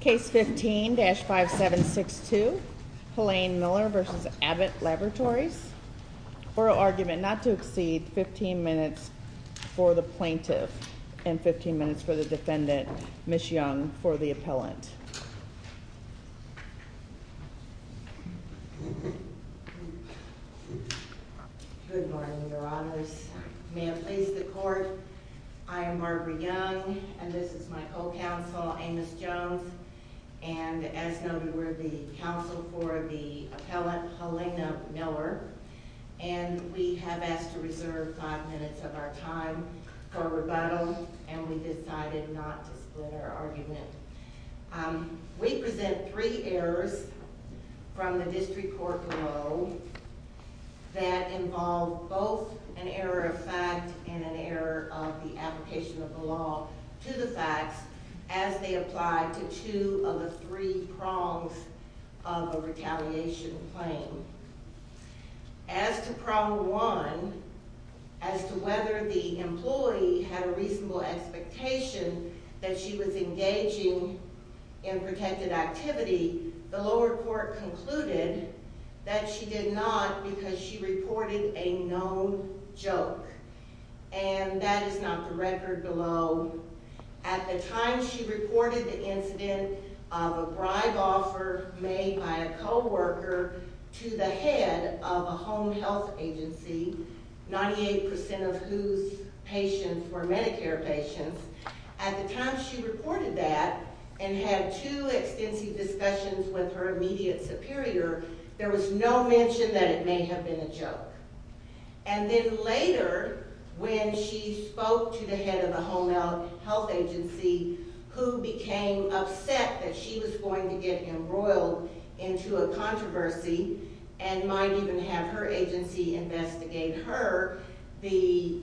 Case 15-5762, Halane Miller v. Abbott Laboratories Oral argument not to exceed 15 minutes for the plaintiff and 15 minutes for the defendant, Ms. Young, for the appellant. Good morning, your honors. May I please the court? I am Marguerite Young, and this is my co-counsel, Amos Jones, and as noted, we're the counsel for the appellant, Halane Miller, and we have asked to reserve five minutes of our time for rebuttal, and we decided not to split our argument. We present three errors from the district court below that involve both an error of fact and an error of the application of the law to the facts as they apply to two of the three prongs of a retaliation claim. As to prong one, as to whether the employee had a reasonable expectation that she was engaging in protected activity, the lower court concluded that she did not because she reported a known joke, and that is not the record below. At the time she reported the incident of a bribe offer made by a co-worker to the head of a home health agency, 98% of whose patients were Medicare patients. At the time she reported that and had two extensive discussions with her immediate superior, there was no mention that it may have been a joke. And then later when she spoke to the head of the home health agency who became upset that she was going to get embroiled into a controversy and might even have her agency investigate her, the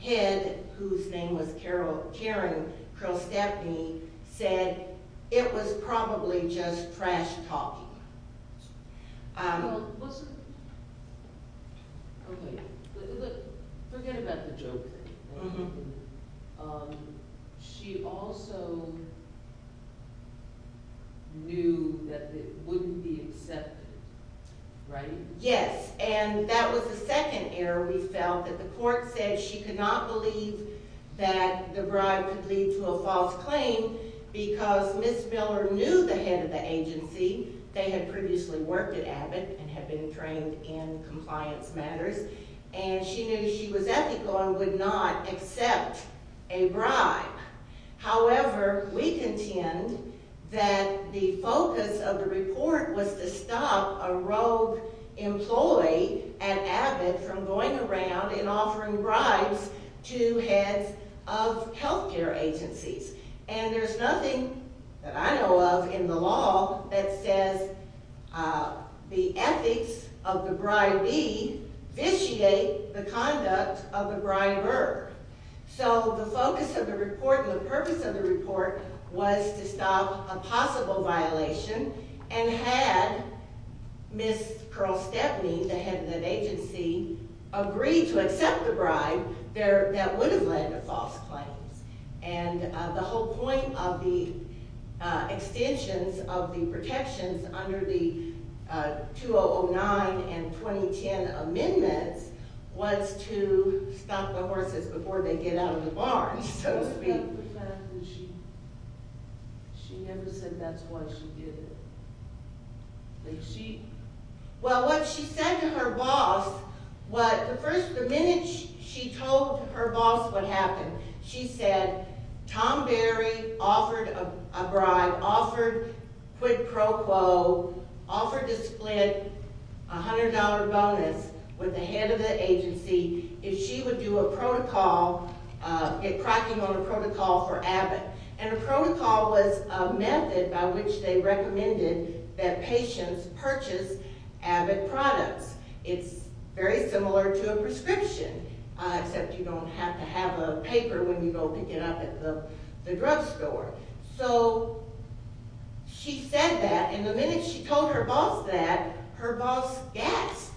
head, whose name was Karen Krilstepny, said it was probably just trash talking. Forget about the joke thing. She also knew that it wouldn't be accepted, right? Yes, and that was the second error we felt, that the court said she could not believe that the bribe could lead to a false claim because Ms. Miller knew the head of the agency. They had previously worked at Abbott and had been trained in compliance matters, and she knew she was ethical and would not accept a bribe. However, we contend that the focus of the report was to stop a rogue employee at Abbott from going around and offering bribes to heads of health care agencies. And there's nothing that I know of in the law that says the ethics of the bribee vitiate the conduct of the briber. So the focus of the report and the purpose of the report was to stop a possible violation, and had Ms. Krilstepny, the head of that agency, agreed to accept the bribe, that would have led to false claims. And the whole point of the extensions of the protections under the 2009 and 2010 amendments was to stop the horses before they get out of the barn, so to speak. She never said that's why she did it. Well, what she said to her boss, the minute she told her boss what happened, she said, Tom Berry offered a bribe, offered quid pro quo, offered to split a $100 bonus with the head of the agency if she would do a protocol, get cracking on a protocol for Abbott. And a protocol was a method by which they recommended that patients purchase Abbott products. It's very similar to a prescription, except you don't have to have a paper when you go pick it up at the drugstore. So she said that, and the minute she told her boss that, her boss gasped,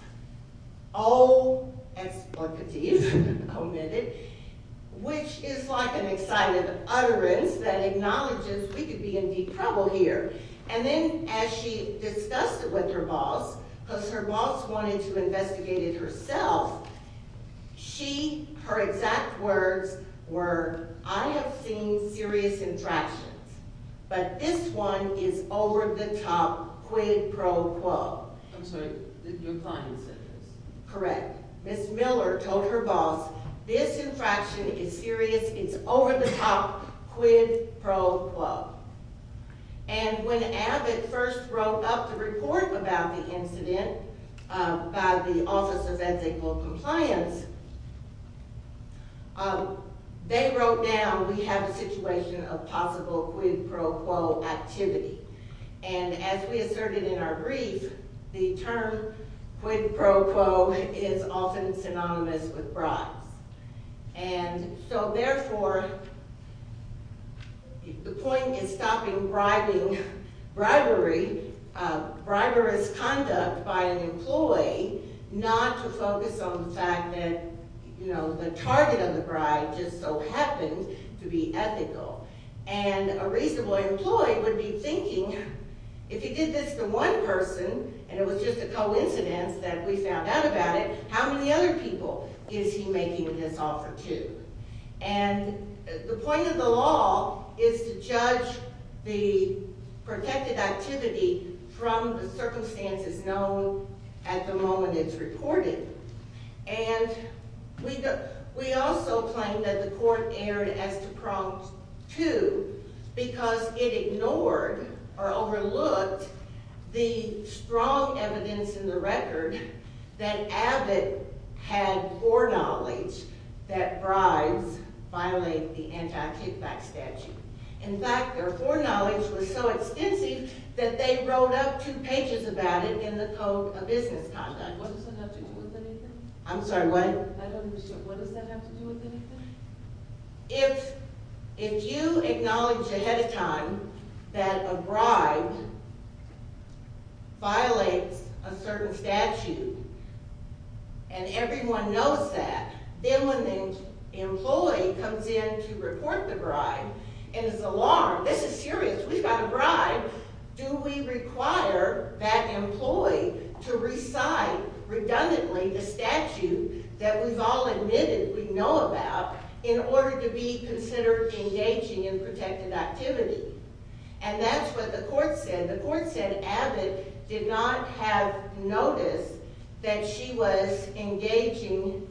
oh, explicities committed, which is like an excited utterance that acknowledges we could be in deep trouble here. And then as she discussed it with her boss, because her boss wanted to investigate it herself, she, her exact words were, I have seen serious infractions, but this one is over-the-top quid pro quo. I'm sorry, your client said this. Correct. Ms. Miller told her boss, this infraction is serious, it's over-the-top quid pro quo. And when Abbott first wrote up the report about the incident by the Office of Ed's Equal Compliance, they wrote down we have a situation of possible quid pro quo activity. And as we asserted in our brief, the term quid pro quo is often synonymous with bribes. And so therefore, the point is stopping bribing, bribery, bribery as conduct by an employee, not to focus on the fact that, you know, the target of the bribe just so happens to be ethical. And a reasonable employee would be thinking, if he did this to one person, and it was just a coincidence that we found out about it, how many other people is he making this offer to? And the point of the law is to judge the protected activity from the circumstances known at the moment it's reported. And we also claim that the court erred as to Prompt 2 because it ignored or overlooked the strong evidence in the record that Abbott had foreknowledge that bribes violate the anti-kickback statute. In fact, their foreknowledge was so extensive that they wrote up two pages about it in the Code of Business Conduct. What does that have to do with anything? I'm sorry, what? I don't understand. What does that have to do with anything? If you acknowledge ahead of time that a bribe violates a certain statute and everyone knows that, then when the employee comes in to report the bribe and is alarmed, this is serious, we've got a bribe, do we require that employee to recite, redundantly, the statute that we've all admitted we know about in order to be considered engaging in protected activity? And that's what the court said. The court said Abbott did not have notice that she was engaging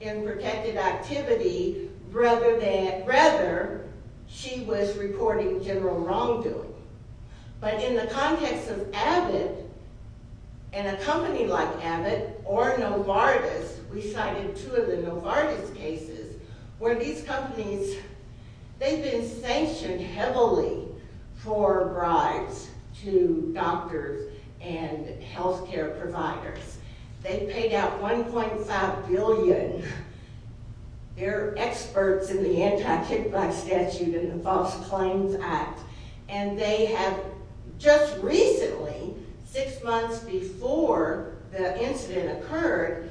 in protected activity rather she was reporting general wrongdoing. But in the context of Abbott and a company like Abbott or Novartis, we cited two of the Novartis cases where these companies, they've been sanctioned heavily for bribes to doctors and health care providers. They've paid out $1.5 billion. They're experts in the anti-kickback statute and the False Claims Act. And they have just recently, six months before the incident occurred,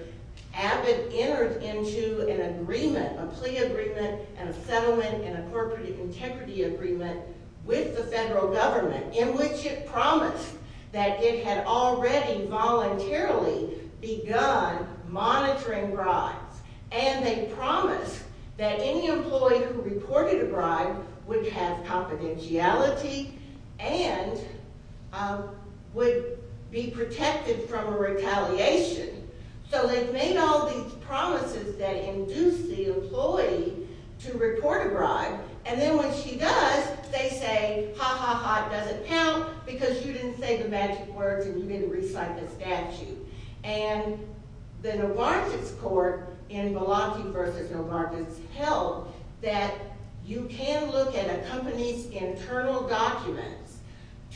Abbott entered into an agreement, a plea agreement, a settlement, and a corporate integrity agreement with the federal government in which it promised that it had already voluntarily begun monitoring bribes. And they promised that any employee who reported a bribe would have confidentiality and would be protected from a retaliation. So they've made all these promises that induce the employee to report a bribe. And then when she does, they say, ha, ha, ha, it doesn't count because you didn't say the magic words and you didn't recite the statute. And the Novartis court in Malaki v. Novartis held that you can look at a company's internal documents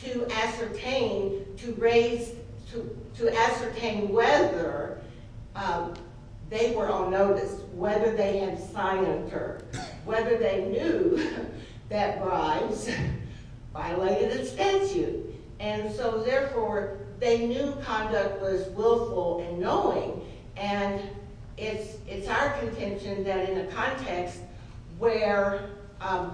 to ascertain whether they were on notice, whether they had signed them, or whether they knew that bribes violated a statute. And so, therefore, they knew conduct was willful and knowing. And it's our contention that in a context where a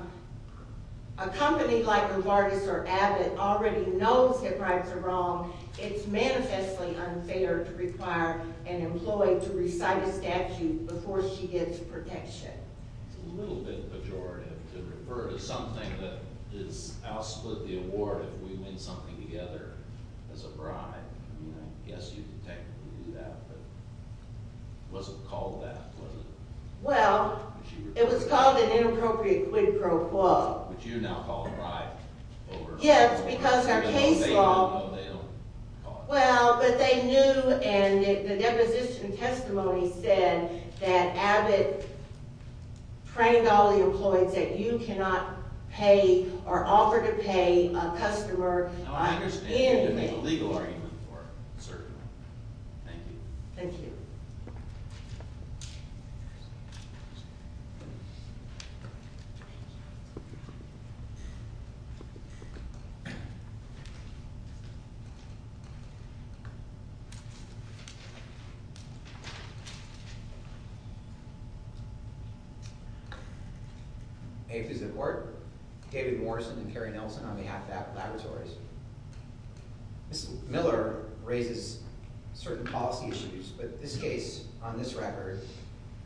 company like Novartis or Abbott already knows that bribes are wrong, it's manifestly unfair to require an employee to recite a statute before she gets protection. It's a little bit pejorative to refer to something that is outspoken in the award if we win something together as a bribe. I mean, I guess you could technically do that, but it wasn't called that, was it? Well, it was called an inappropriate quid pro quo. Which you now call a bribe. Yes, because our case law... They don't know, they don't call it that. Well, but they knew, and the deposition testimony said that Abbott pranged all the employees that you cannot pay or offer to pay a customer. I understand that there's a legal argument for it, certainly. Thank you. Thank you. May it please the Court. David Morrison and Kerry Nelson on behalf of Abbott Laboratories. Ms. Miller raises certain policy issues, but this case, on this record,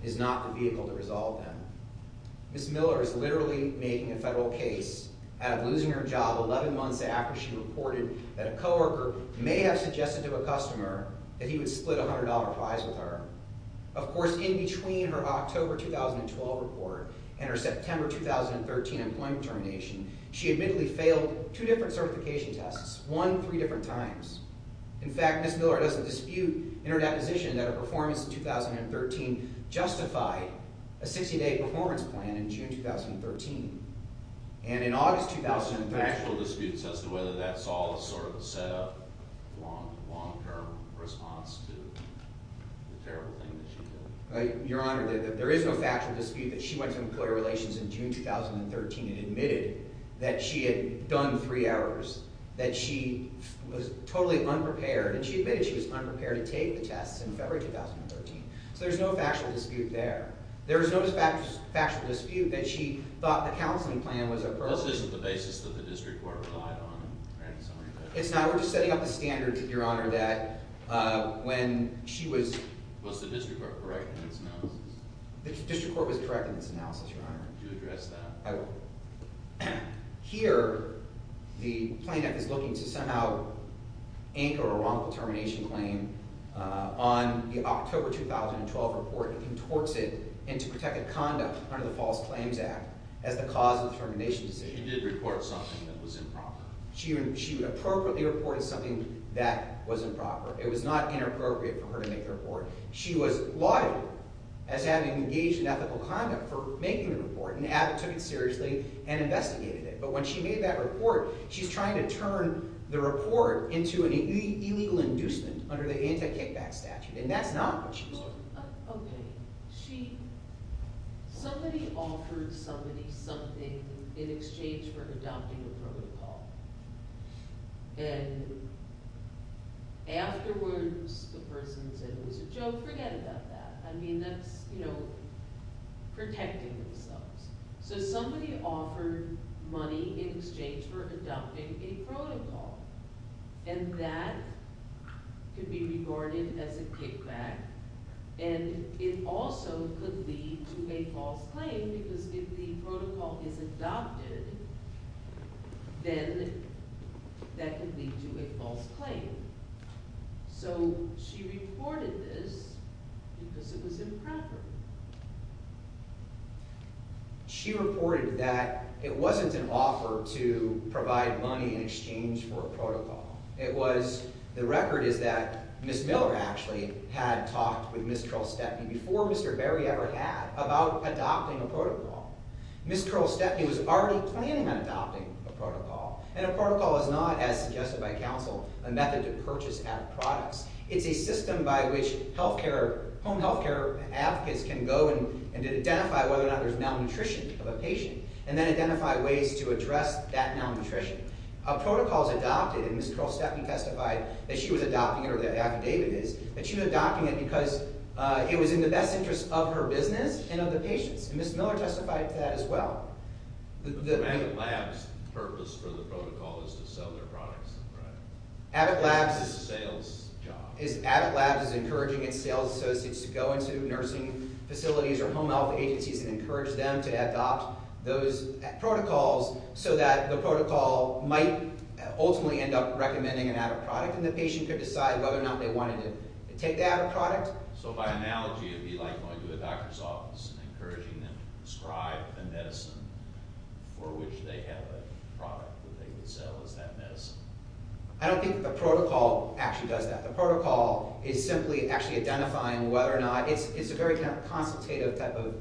is not the vehicle to resolve them. Ms. Miller is literally making a federal case out of losing her job 11 months after she reported that a coworker may have suggested to a customer that he would split $100 fines with her. Of course, in between her October 2012 report and her September 2013 employment termination, she admittedly failed two different certification tests, one three different times. In fact, Ms. Miller doesn't dispute in her deposition that her performance in 2013 justified a 60-day performance plan in June 2013. And in August 2013... There's no factual disputes as to whether that's all sort of a set-up, long-term response to the terrible thing that she did. Your Honor, there is no factual dispute that she went to Employee Relations in June 2013 and admitted that she had done three errors, that she was totally unprepared, and she admitted she was unprepared to take the tests in February 2013. So there's no factual dispute there. There is no factual dispute that she thought the counseling plan was appropriate. This isn't the basis that the district court relied on? It's not. We're just setting up a standard, Your Honor, that when she was... Was the district court correct in its analysis? The district court was correct in its analysis, Your Honor. Do address that. I will. Here, the plaintiff is looking to somehow anchor a wrongful termination claim on the October 2012 report and contorts it into protected conduct under the False Claims Act as the cause of the termination decision. She did report something that was improper. She appropriately reported something that was improper. It was not inappropriate for her to make the report. She was lauded as having engaged in ethical conduct for making the report, and Abbott took it seriously and investigated it. But when she made that report, she's trying to turn the report into an illegal inducement under the Anti-Kickback Statute, and that's not what she's doing. Well, okay. She… Somebody offered somebody something in exchange for adopting a protocol. And afterwards, the person said it was a joke. Forget about that. I mean, that's, you know, protecting themselves. So somebody offered money in exchange for adopting a protocol, and that could be regarded as a kickback, and it also could lead to a false claim because if the protocol is adopted, then that could lead to a false claim. So she reported this because it was improper. She reported that it wasn't an offer to provide money in exchange for a protocol. It was—the record is that Ms. Miller actually had talked with Ms. Curl Stepney before Mr. Berry ever had about adopting a protocol. Ms. Curl Stepney was already planning on adopting a protocol, and a protocol is not, as suggested by counsel, a method to purchase added products. It's a system by which healthcare—home healthcare advocates can go and identify whether or not there's malnutrition of a patient and then identify ways to address that malnutrition. A protocol is adopted, and Ms. Curl Stepney testified that she was adopting it, or the affidavit is, that she was adopting it because it was in the best interest of her business and of the patients, and Ms. Miller testified to that as well. The Abbott Labs purpose for the protocol is to sell their products, right? It's a sales job. Abbott Labs is encouraging its sales associates to go into nursing facilities or home health agencies and encourage them to adopt those protocols so that the protocol might ultimately end up recommending an added product, and the patient could decide whether or not they wanted to take the added product. It's encouraging them to prescribe the medicine for which they have a product that they would sell as that medicine. I don't think the protocol actually does that. The protocol is simply actually identifying whether or not— it's a very kind of consultative type of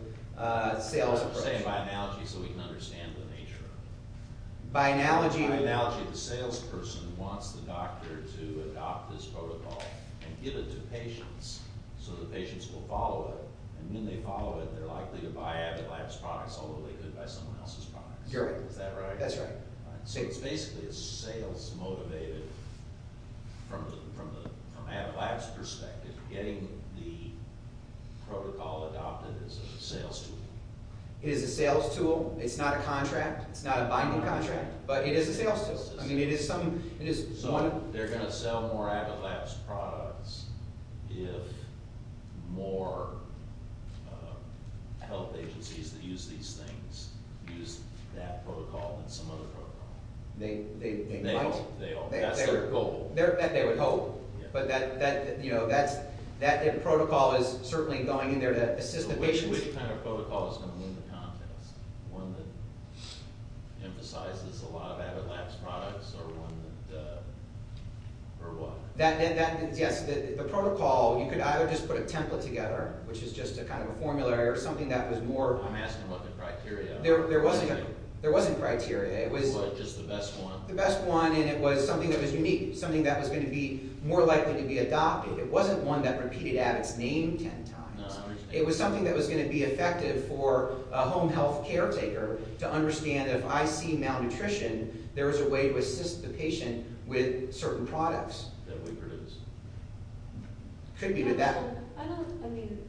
sales approach. I'm saying by analogy so we can understand the nature of it. By analogy— By analogy, the salesperson wants the doctor to adopt this protocol and give it to patients so the patients will follow it, and when they follow it, they're likely to buy Abbott Labs products although they could buy someone else's products. Is that right? That's right. So it's basically a sales-motivated, from the Abbott Labs perspective, getting the protocol adopted as a sales tool. It is a sales tool. It's not a contract. It's not a binding contract, but it is a sales tool. I mean, it is some— They're going to sell more Abbott Labs products if more health agencies that use these things use that protocol than some other protocol. They might. That's their goal. That they would hope. But that protocol is certainly going in there to assist the patients. Which kind of protocol is going to win the contest? One that emphasizes a lot of Abbott Labs products or one that—or what? Yes, the protocol. You could either just put a template together, which is just a kind of a formula or something that was more— I'm asking about the criteria. There wasn't criteria. It was— Just the best one? The best one, and it was something that was unique, something that was going to be more likely to be adopted. It wasn't one that repeated Abbott's name 10 times. No, I understand. It was something that was going to be effective for a home health caretaker to understand that if I see malnutrition, there is a way to assist the patient with certain products. That we produce. Could be, but that— I don't—I mean,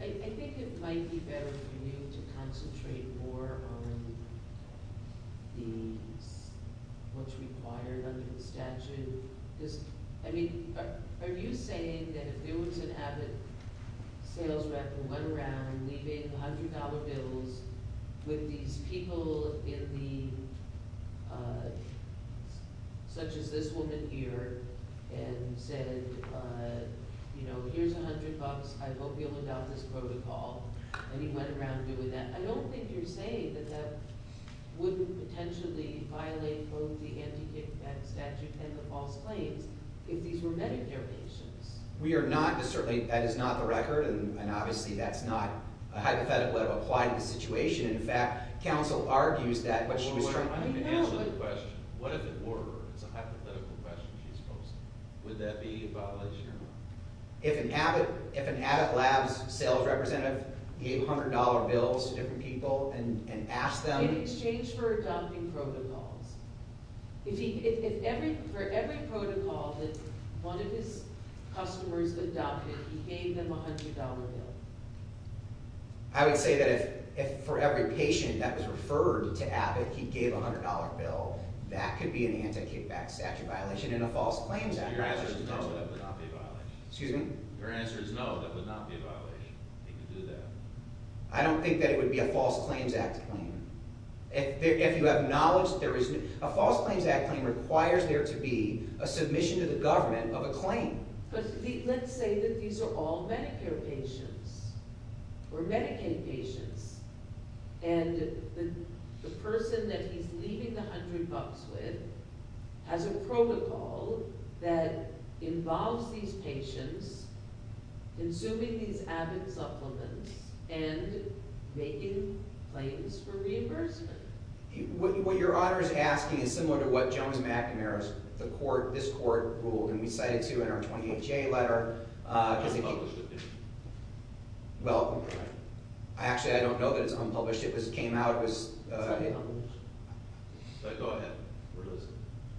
I think it might be better for you to concentrate more on the—what's required under the statute. Because, I mean, are you saying that if there was an Abbott sales rep who went around leaving $100 bills with these people in the— such as this woman here, and said, you know, here's $100, I hope you'll adopt this protocol, and he went around doing that, I don't think you're saying that that wouldn't potentially violate both the anti-kickback statute and the false claims if these were Medicare patients. We are not— Certainly, that is not the record, and obviously that's not a hypothetical that would apply to the situation. In fact, counsel argues that what she was trying to— I'm going to answer the question. What if it were? It's a hypothetical question she's posing. Would that be a violation or not? If an Abbott labs sales representative gave $100 bills to different people and asked them— In exchange for adopting protocols. For every protocol that one of his customers adopted, he gave them a $100 bill. I would say that if for every patient that was referred to Abbott he gave a $100 bill, that could be an anti-kickback statute violation and a false claims act violation. If your answer is no, that would not be a violation. Excuse me? If your answer is no, that would not be a violation. He could do that. I don't think that it would be a false claims act claim. If you acknowledge that there is— A false claims act claim requires there to be a submission to the government of a claim. But let's say that these are all Medicare patients or Medicaid patients and the person that he's leaving the $100 with has a protocol that involves these patients consuming these Abbott supplements and making claims for reimbursement. What your honor is asking is similar to what Jones McNamara's— the court, this court, ruled. And we cited, too, in our 28-J letter— Unpublished opinion. Well, actually I don't know that it's unpublished. It came out, it was— It's unpublished. Go ahead.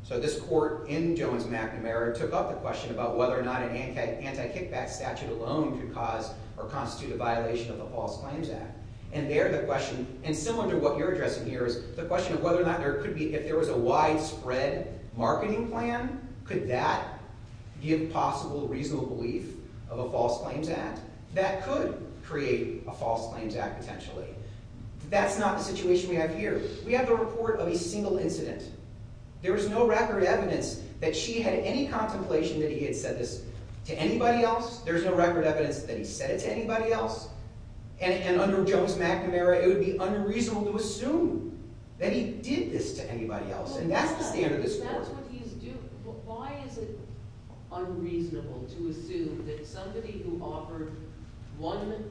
So this court in Jones McNamara took up the question about whether or not an anti-kickback statute alone could cause or constitute a violation of a false claims act. And there the question— And similar to what you're addressing here is the question of whether or not there could be— If there was a widespread marketing plan, could that give possible reasonable belief of a false claims act? That could create a false claims act potentially. That's not the situation we have here. We have a report of a single incident. There was no record evidence that she had any contemplation that he had said this to anybody else. There's no record evidence that he said it to anybody else. And under Jones McNamara, it would be unreasonable to assume that he did this to anybody else. And that's the standard of this court. That's what he's doing. Why is it unreasonable to assume that somebody who offered one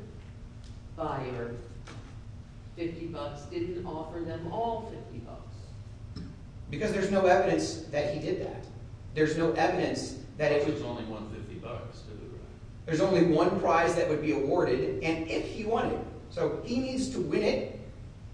buyer 50 bucks didn't offer them all 50 bucks? Because there's no evidence that he did that. There's no evidence that if— There's only one prize that would be awarded, and if he won it. So he needs to win it,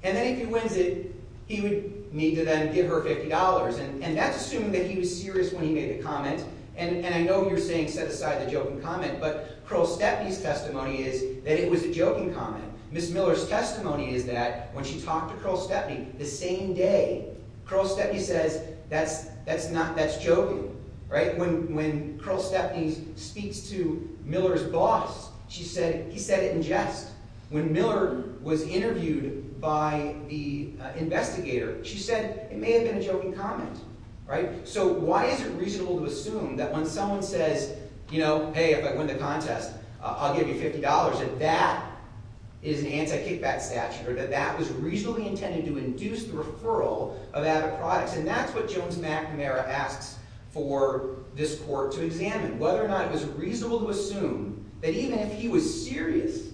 and then if he wins it, he would need to then give her $50. And that's assuming that he was serious when he made the comment. And I know you're saying set aside the joking comment, but Kroll-Stepney's testimony is that it was a joking comment. Ms. Miller's testimony is that when she talked to Kroll-Stepney the same day, Kroll-Stepney says, that's not—that's joking. When Kroll-Stepney speaks to Miller's boss, she said he said it in jest. When Miller was interviewed by the investigator, she said it may have been a joking comment. So why is it reasonable to assume that when someone says, hey, if I win the contest, I'll give you $50, that that is an anti-kickback statute or that that was reasonably intended to induce the referral of added products? And that's what Jones-McNamara asks for this court to examine, whether or not it was reasonable to assume that even if he was serious,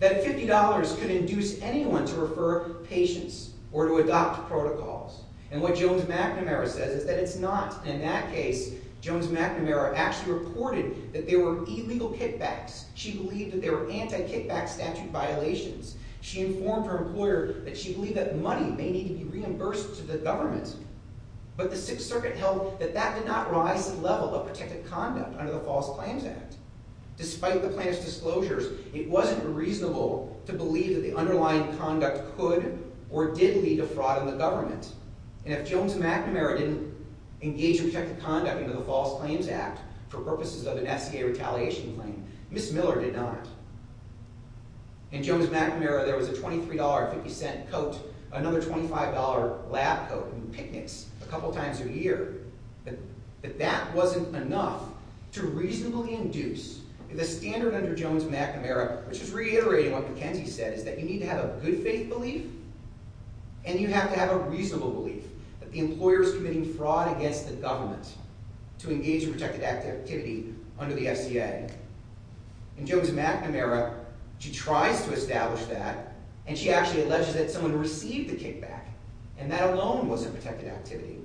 that $50 could induce anyone to refer patients or to adopt protocols. And what Jones-McNamara says is that it's not. And in that case, Jones-McNamara actually reported that there were illegal kickbacks. She believed that there were anti-kickback statute violations. She informed her employer that she believed that money may need to be reimbursed to the government. But the Sixth Circuit held that that did not rise to the level of protected conduct under the False Claims Act. Despite the plaintiff's disclosures, it wasn't reasonable to believe that the underlying conduct could or did lead to fraud in the government. And if Jones-McNamara didn't engage in protected conduct under the False Claims Act for purposes of an SCA retaliation claim, Ms. Miller did not. In Jones-McNamara, there was a $23.50 coat, another $25 lab coat, and picnics a couple times a year. But that wasn't enough to reasonably induce... The standard under Jones-McNamara, which is reiterating what McKenzie said, is that you need to have a good faith belief and you have to have a reasonable belief that the employer is committing fraud against the government to engage in protected activity under the SCA. In Jones-McNamara, she tries to establish that, and she actually alleges that someone received the kickback, and that alone wasn't protected activity.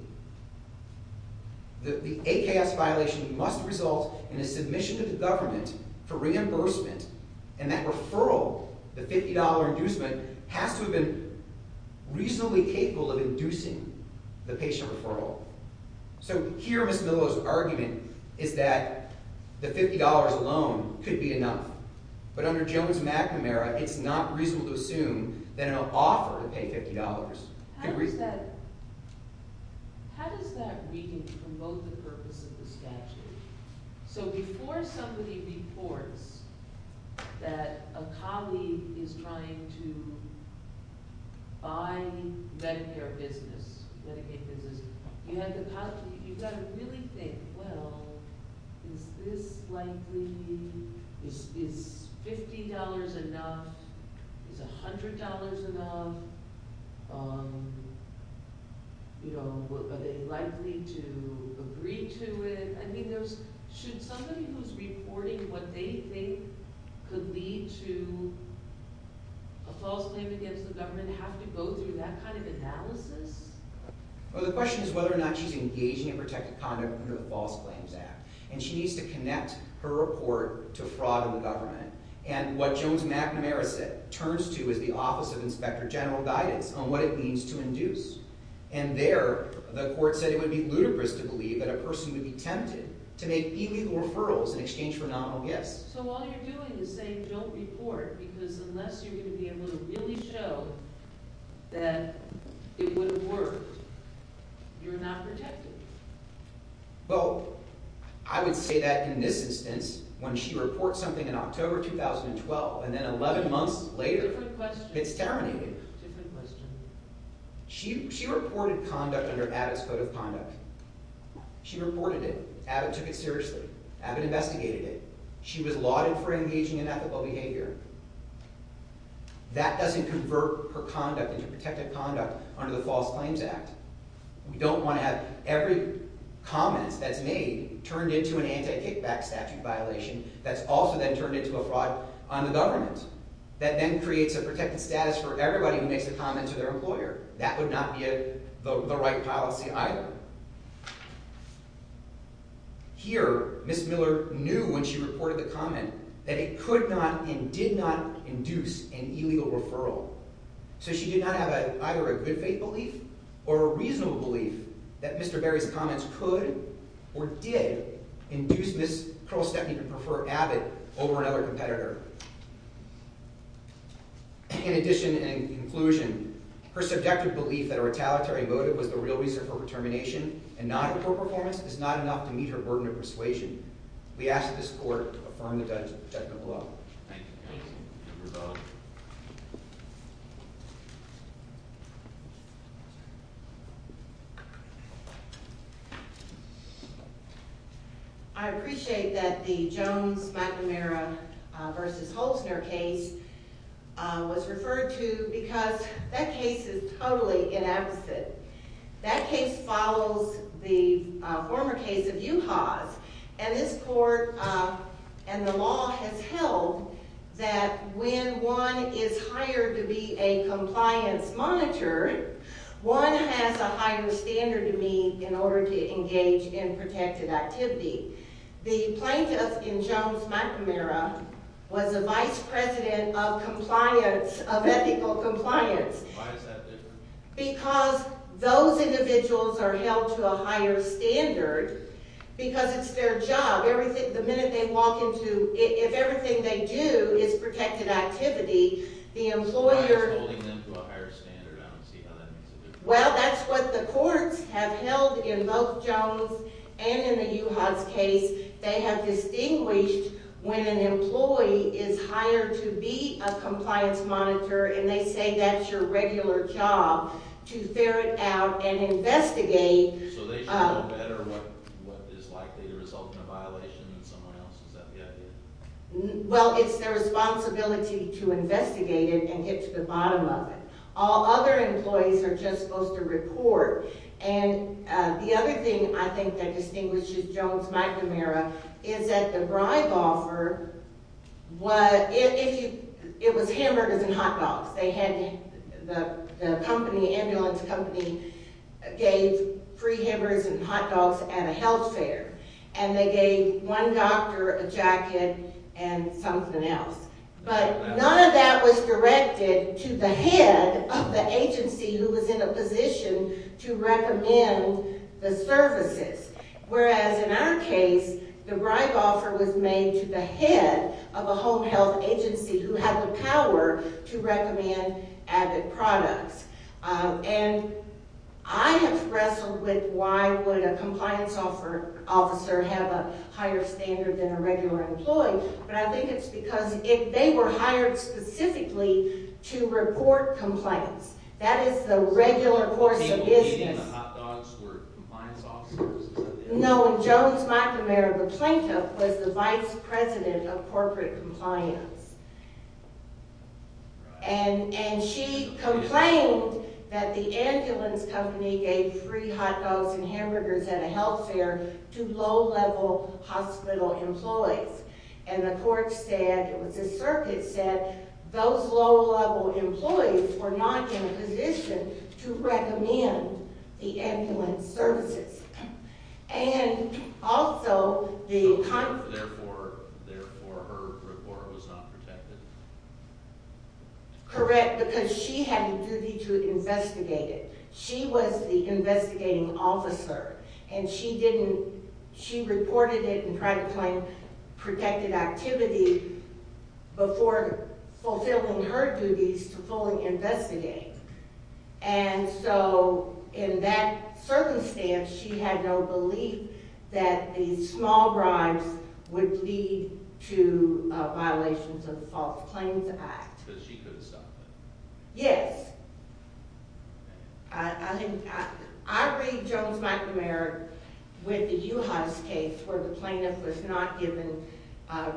The AKS violation must result in a submission to the government for reimbursement, and that referral, the $50 inducement, has to have been reasonably capable So here, Ms. Miller's argument is that the $50 alone could be enough. But under Jones-McNamara, it's not reasonable to assume that an offer to pay $50 could be... How does that... How does that weaken from both the purpose of the statute? So before somebody reports that a colleague is trying to buy Medicare business, Medicaid business, you have to... You've got to really think, well, is this likely? Is $50 enough? Is $100 enough? You know, are they likely to agree to it? I mean, should somebody who's reporting what they think could lead to a false claim against the government have to go through that kind of analysis? Well, the question is whether or not she's engaging in protected conduct under the False Claims Act. And she needs to connect her report to fraud in the government. And what Jones-McNamara turns to is the Office of Inspector General Guidance on what it means to induce. And there, the court said it would be ludicrous to believe that a person would be tempted to make illegal referrals in exchange for nominal gifts. So all you're doing is saying, don't report, because unless you're going to be able to really show that it would have worked, you're not protected. Well, I would say that in this instance, when she reports something in October 2012, and then 11 months later, it's terminated. Different question. She reported conduct under Abbott's Code of Conduct. She reported it. Abbott took it seriously. Abbott investigated it. She was lauded for engaging in ethical behavior. That doesn't convert her conduct into protected conduct under the False Claims Act. We don't want to have every comment that's made turned into an anti-kickback statute violation that's also then turned into a fraud on the government. That then creates a protected status for everybody who makes a comment to their employer. That would not be the right policy either. Here, Ms. Miller knew when she reported the comment that it could not and did not induce an illegal referral. So she did not have either a good-faith belief or a reasonable belief that Mr. Berry's comments could or did induce Ms. Pearl Stepney to prefer Abbott over another competitor. In addition and in conclusion, her subjective belief that a retaliatory motive was the real reason for her termination and not a poor performance is not enough to meet her burden of persuasion. We ask this Court to affirm the judgment of the law. Thank you. I appreciate that the Jones-McNamara v. Holzner case was referred to because that case is totally ineptitude. That case follows the former case of U-Haas and this Court and the law has held that when one is hired to be a compliance monitor, one has a higher standard to meet in order to engage in protected activity. The plaintiff in Jones-McNamara was a vice president of compliance, of ethical compliance. Why is that different? Because those individuals are held to a higher standard because it's their job. The minute they walk into... If everything they do is protected activity, the employer... Why is holding them to a higher standard? I don't see how that makes a difference. Well, that's what the courts have held in both Jones' and in the U-Haas case. They have distinguished when an employee is hired to be a compliance monitor and they say that's your regular job to ferret out and investigate... So they should know better what is likely to result in a violation than someone else. Is that the idea? Well, it's their responsibility to investigate it and get to the bottom of it. All other employees are just supposed to report. And the other thing, I think, that distinguishes Jones-McNamara is that the bribe offer was... It was hammered as in hot dogs. The company, ambulance company, gave free hammers and hot dogs at a health fair. And they gave one doctor a jacket and something else. But none of that was directed to the head of the agency who was in a position to recommend the services. Whereas in our case, the bribe offer was made to the head of a home health agency who had the power to recommend advent products. And I have wrestled with why would a compliance officer have a higher standard than a regular employee. But I think it's because they were hired specifically to report compliance. That is the regular course of business. Maybe even the hot dogs were compliance officers. No, and Jones-McNamara, the plaintiff, was the vice president of corporate compliance. And she complained that the ambulance company gave free hot dogs and hamburgers at a health fair to low-level hospital employees. And the court said, it was the circuit said, those low-level employees were not in a position to recommend the ambulance services. And also, the... And therefore, her report was not protected. Correct, because she had a duty to investigate it. She was the investigating officer. And she didn't... She reported it in private claim protected activity before fulfilling her duties to fully investigate. And so, in that circumstance, she had no belief that these small bribes would lead to violations of the False Claims Act. Because she couldn't stop it. Yes. I read Jones-McNamara with the Juhasz case where the plaintiff was not given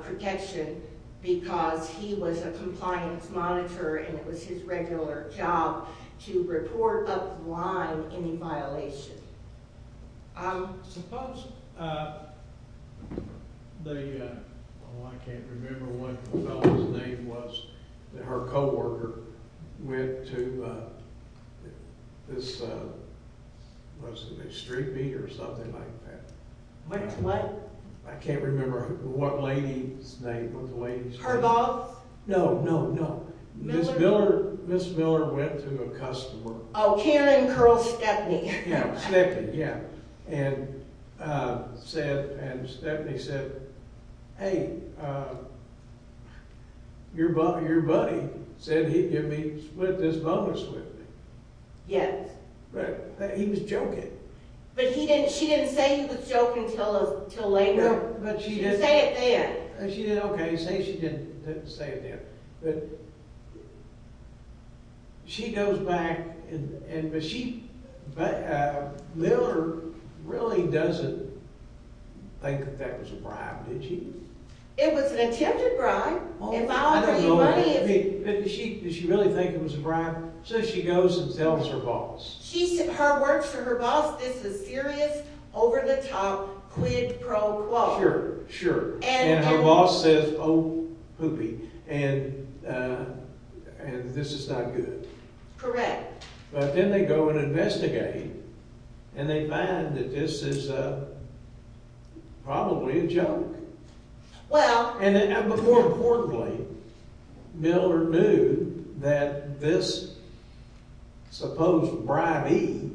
protection because he was a compliance monitor and it was his regular job to report up the line any violation. I suppose the... Oh, I can't remember what the fellow's name was. Her co-worker went to... This... Was it Street Beat or something like that? What? I can't remember what lady's name was the lady's name. Herboth? No, no, no. Miller? Ms. Miller went to a customer. Oh, Karen Curl Stepney. Yeah, Stepney, yeah. And said, and Stepney said, hey, your buddy said he'd give me, split this bonus with me. Yes. He was joking. But she didn't say he was joking until later. She didn't say it then. She didn't say it then. But... She goes back and she... Miller really doesn't think that that was a bribe, did she? It was an attempted bribe. If I'll pay you money... Did she really think it was a bribe? So she goes and tells her boss. She said her words to her boss, this is serious, over the top, quid pro quo. Sure, sure. And her boss says, oh, poopy, and this is not good. Correct. But then they go and investigate and they find that this is probably a joke. Well... But more importantly, Miller knew that this supposed bribee,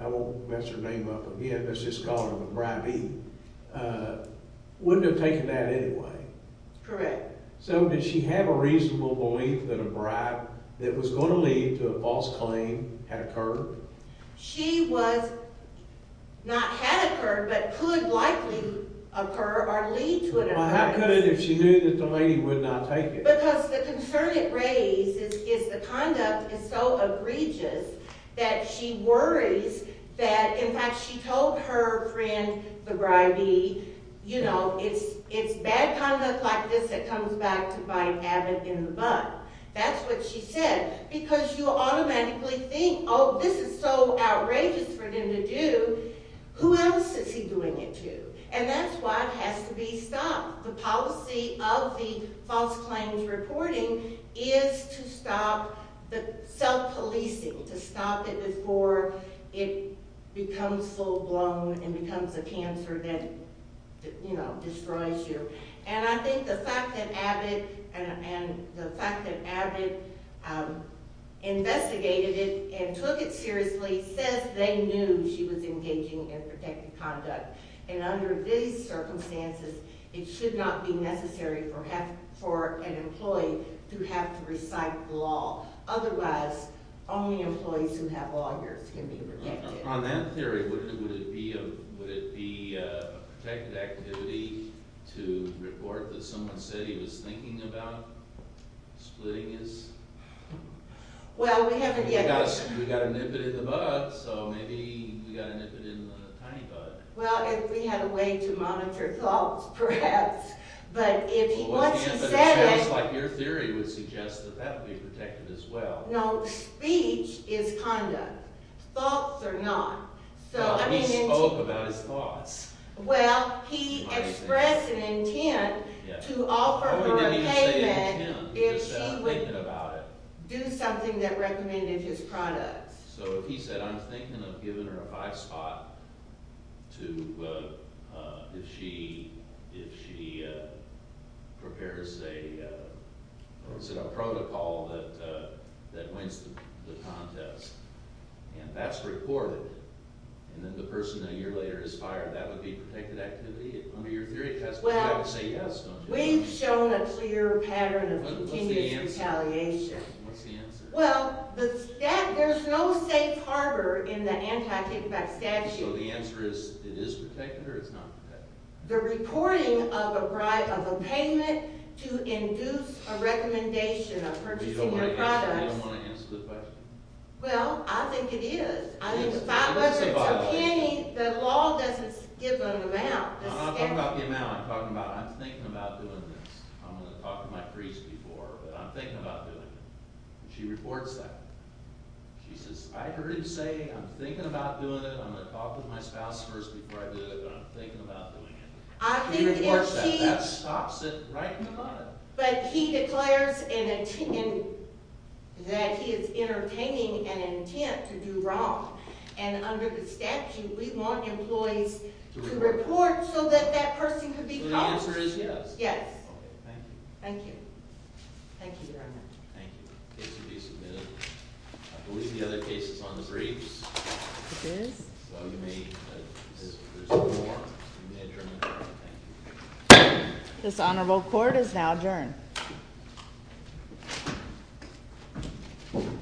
I won't mess her name up again, let's just call her the bribee, wouldn't have taken that anyway. Correct. So did she have a reasonable belief that a bribe that was going to lead to a false claim had occurred? She was... Not had occurred, but could likely occur or lead to a bribe. Well, how could it if she knew that the lady would not take it? Because the concern it raises is the conduct is so egregious that she worries that, in fact, she told her friend, the bribee, you know, it's bad conduct like this that comes back to bite Abbott in the butt. That's what she said. Because you automatically think, oh, this is so outrageous for them to do. Who else is he doing it to? And that's why it has to be stopped. The policy of the false claims reporting is to stop the self-policing, to stop it before it becomes full-blown and becomes a cancer that, you know, destroys you. And I think the fact that Abbott investigated it and took it seriously says they knew she was engaging in protected conduct. And under these circumstances, it should not be necessary for an employee to have to recite the law. Otherwise, only employees who have lawyers can be protected. On that theory, would it be a protected activity to report that someone said he was thinking about splitting his... Well, we haven't yet... We've got to nip it in the bud, so maybe we've got to nip it in the tiny bud. Well, if we had a way to monitor thoughts, perhaps. But once he said it... But it sounds like your theory would suggest that that would be protected as well. No, speech is conduct. Thoughts are not. But he spoke about his thoughts. Well, he expressed an intent to offer her a payment if she would do something that recommended his products. So if he said, I'm thinking of giving her a five-spot if she prepares a protocol that wins the contest, and that's reported, and then the person a year later is fired, that would be protected activity? Under your theory, I would say yes, don't you? Well, we've shown a clear pattern of continuous retaliation. What's the answer? Well, there's no safe harbor in the anti-kickback statute. So the answer is, it is protected or it's not protected? The reporting of a payment to induce a recommendation of purchasing your products. You don't want to answer the question? Well, I think it is. The law doesn't give an amount. I'm not talking about the amount. I'm talking about, I'm thinking about doing this. I'm going to talk to my priest before, but I'm thinking about doing it. She reports that. She says, I heard him say, I'm thinking about doing it. I'm going to talk to my spouse first before I do it, but I'm thinking about doing it. She reports that. That stops it right in the mud. But he declares that he is entertaining an intent to do wrong. And under the statute, we want employees to report so that that person could be prosecuted. So the answer is yes? Yes. Thank you. Thank you, Your Honor. Thank you. The case will be submitted. I believe the other case is on the briefs. It is. So you may, there's two more. You may adjourn the hearing. Thank you. This honorable court is now adjourned.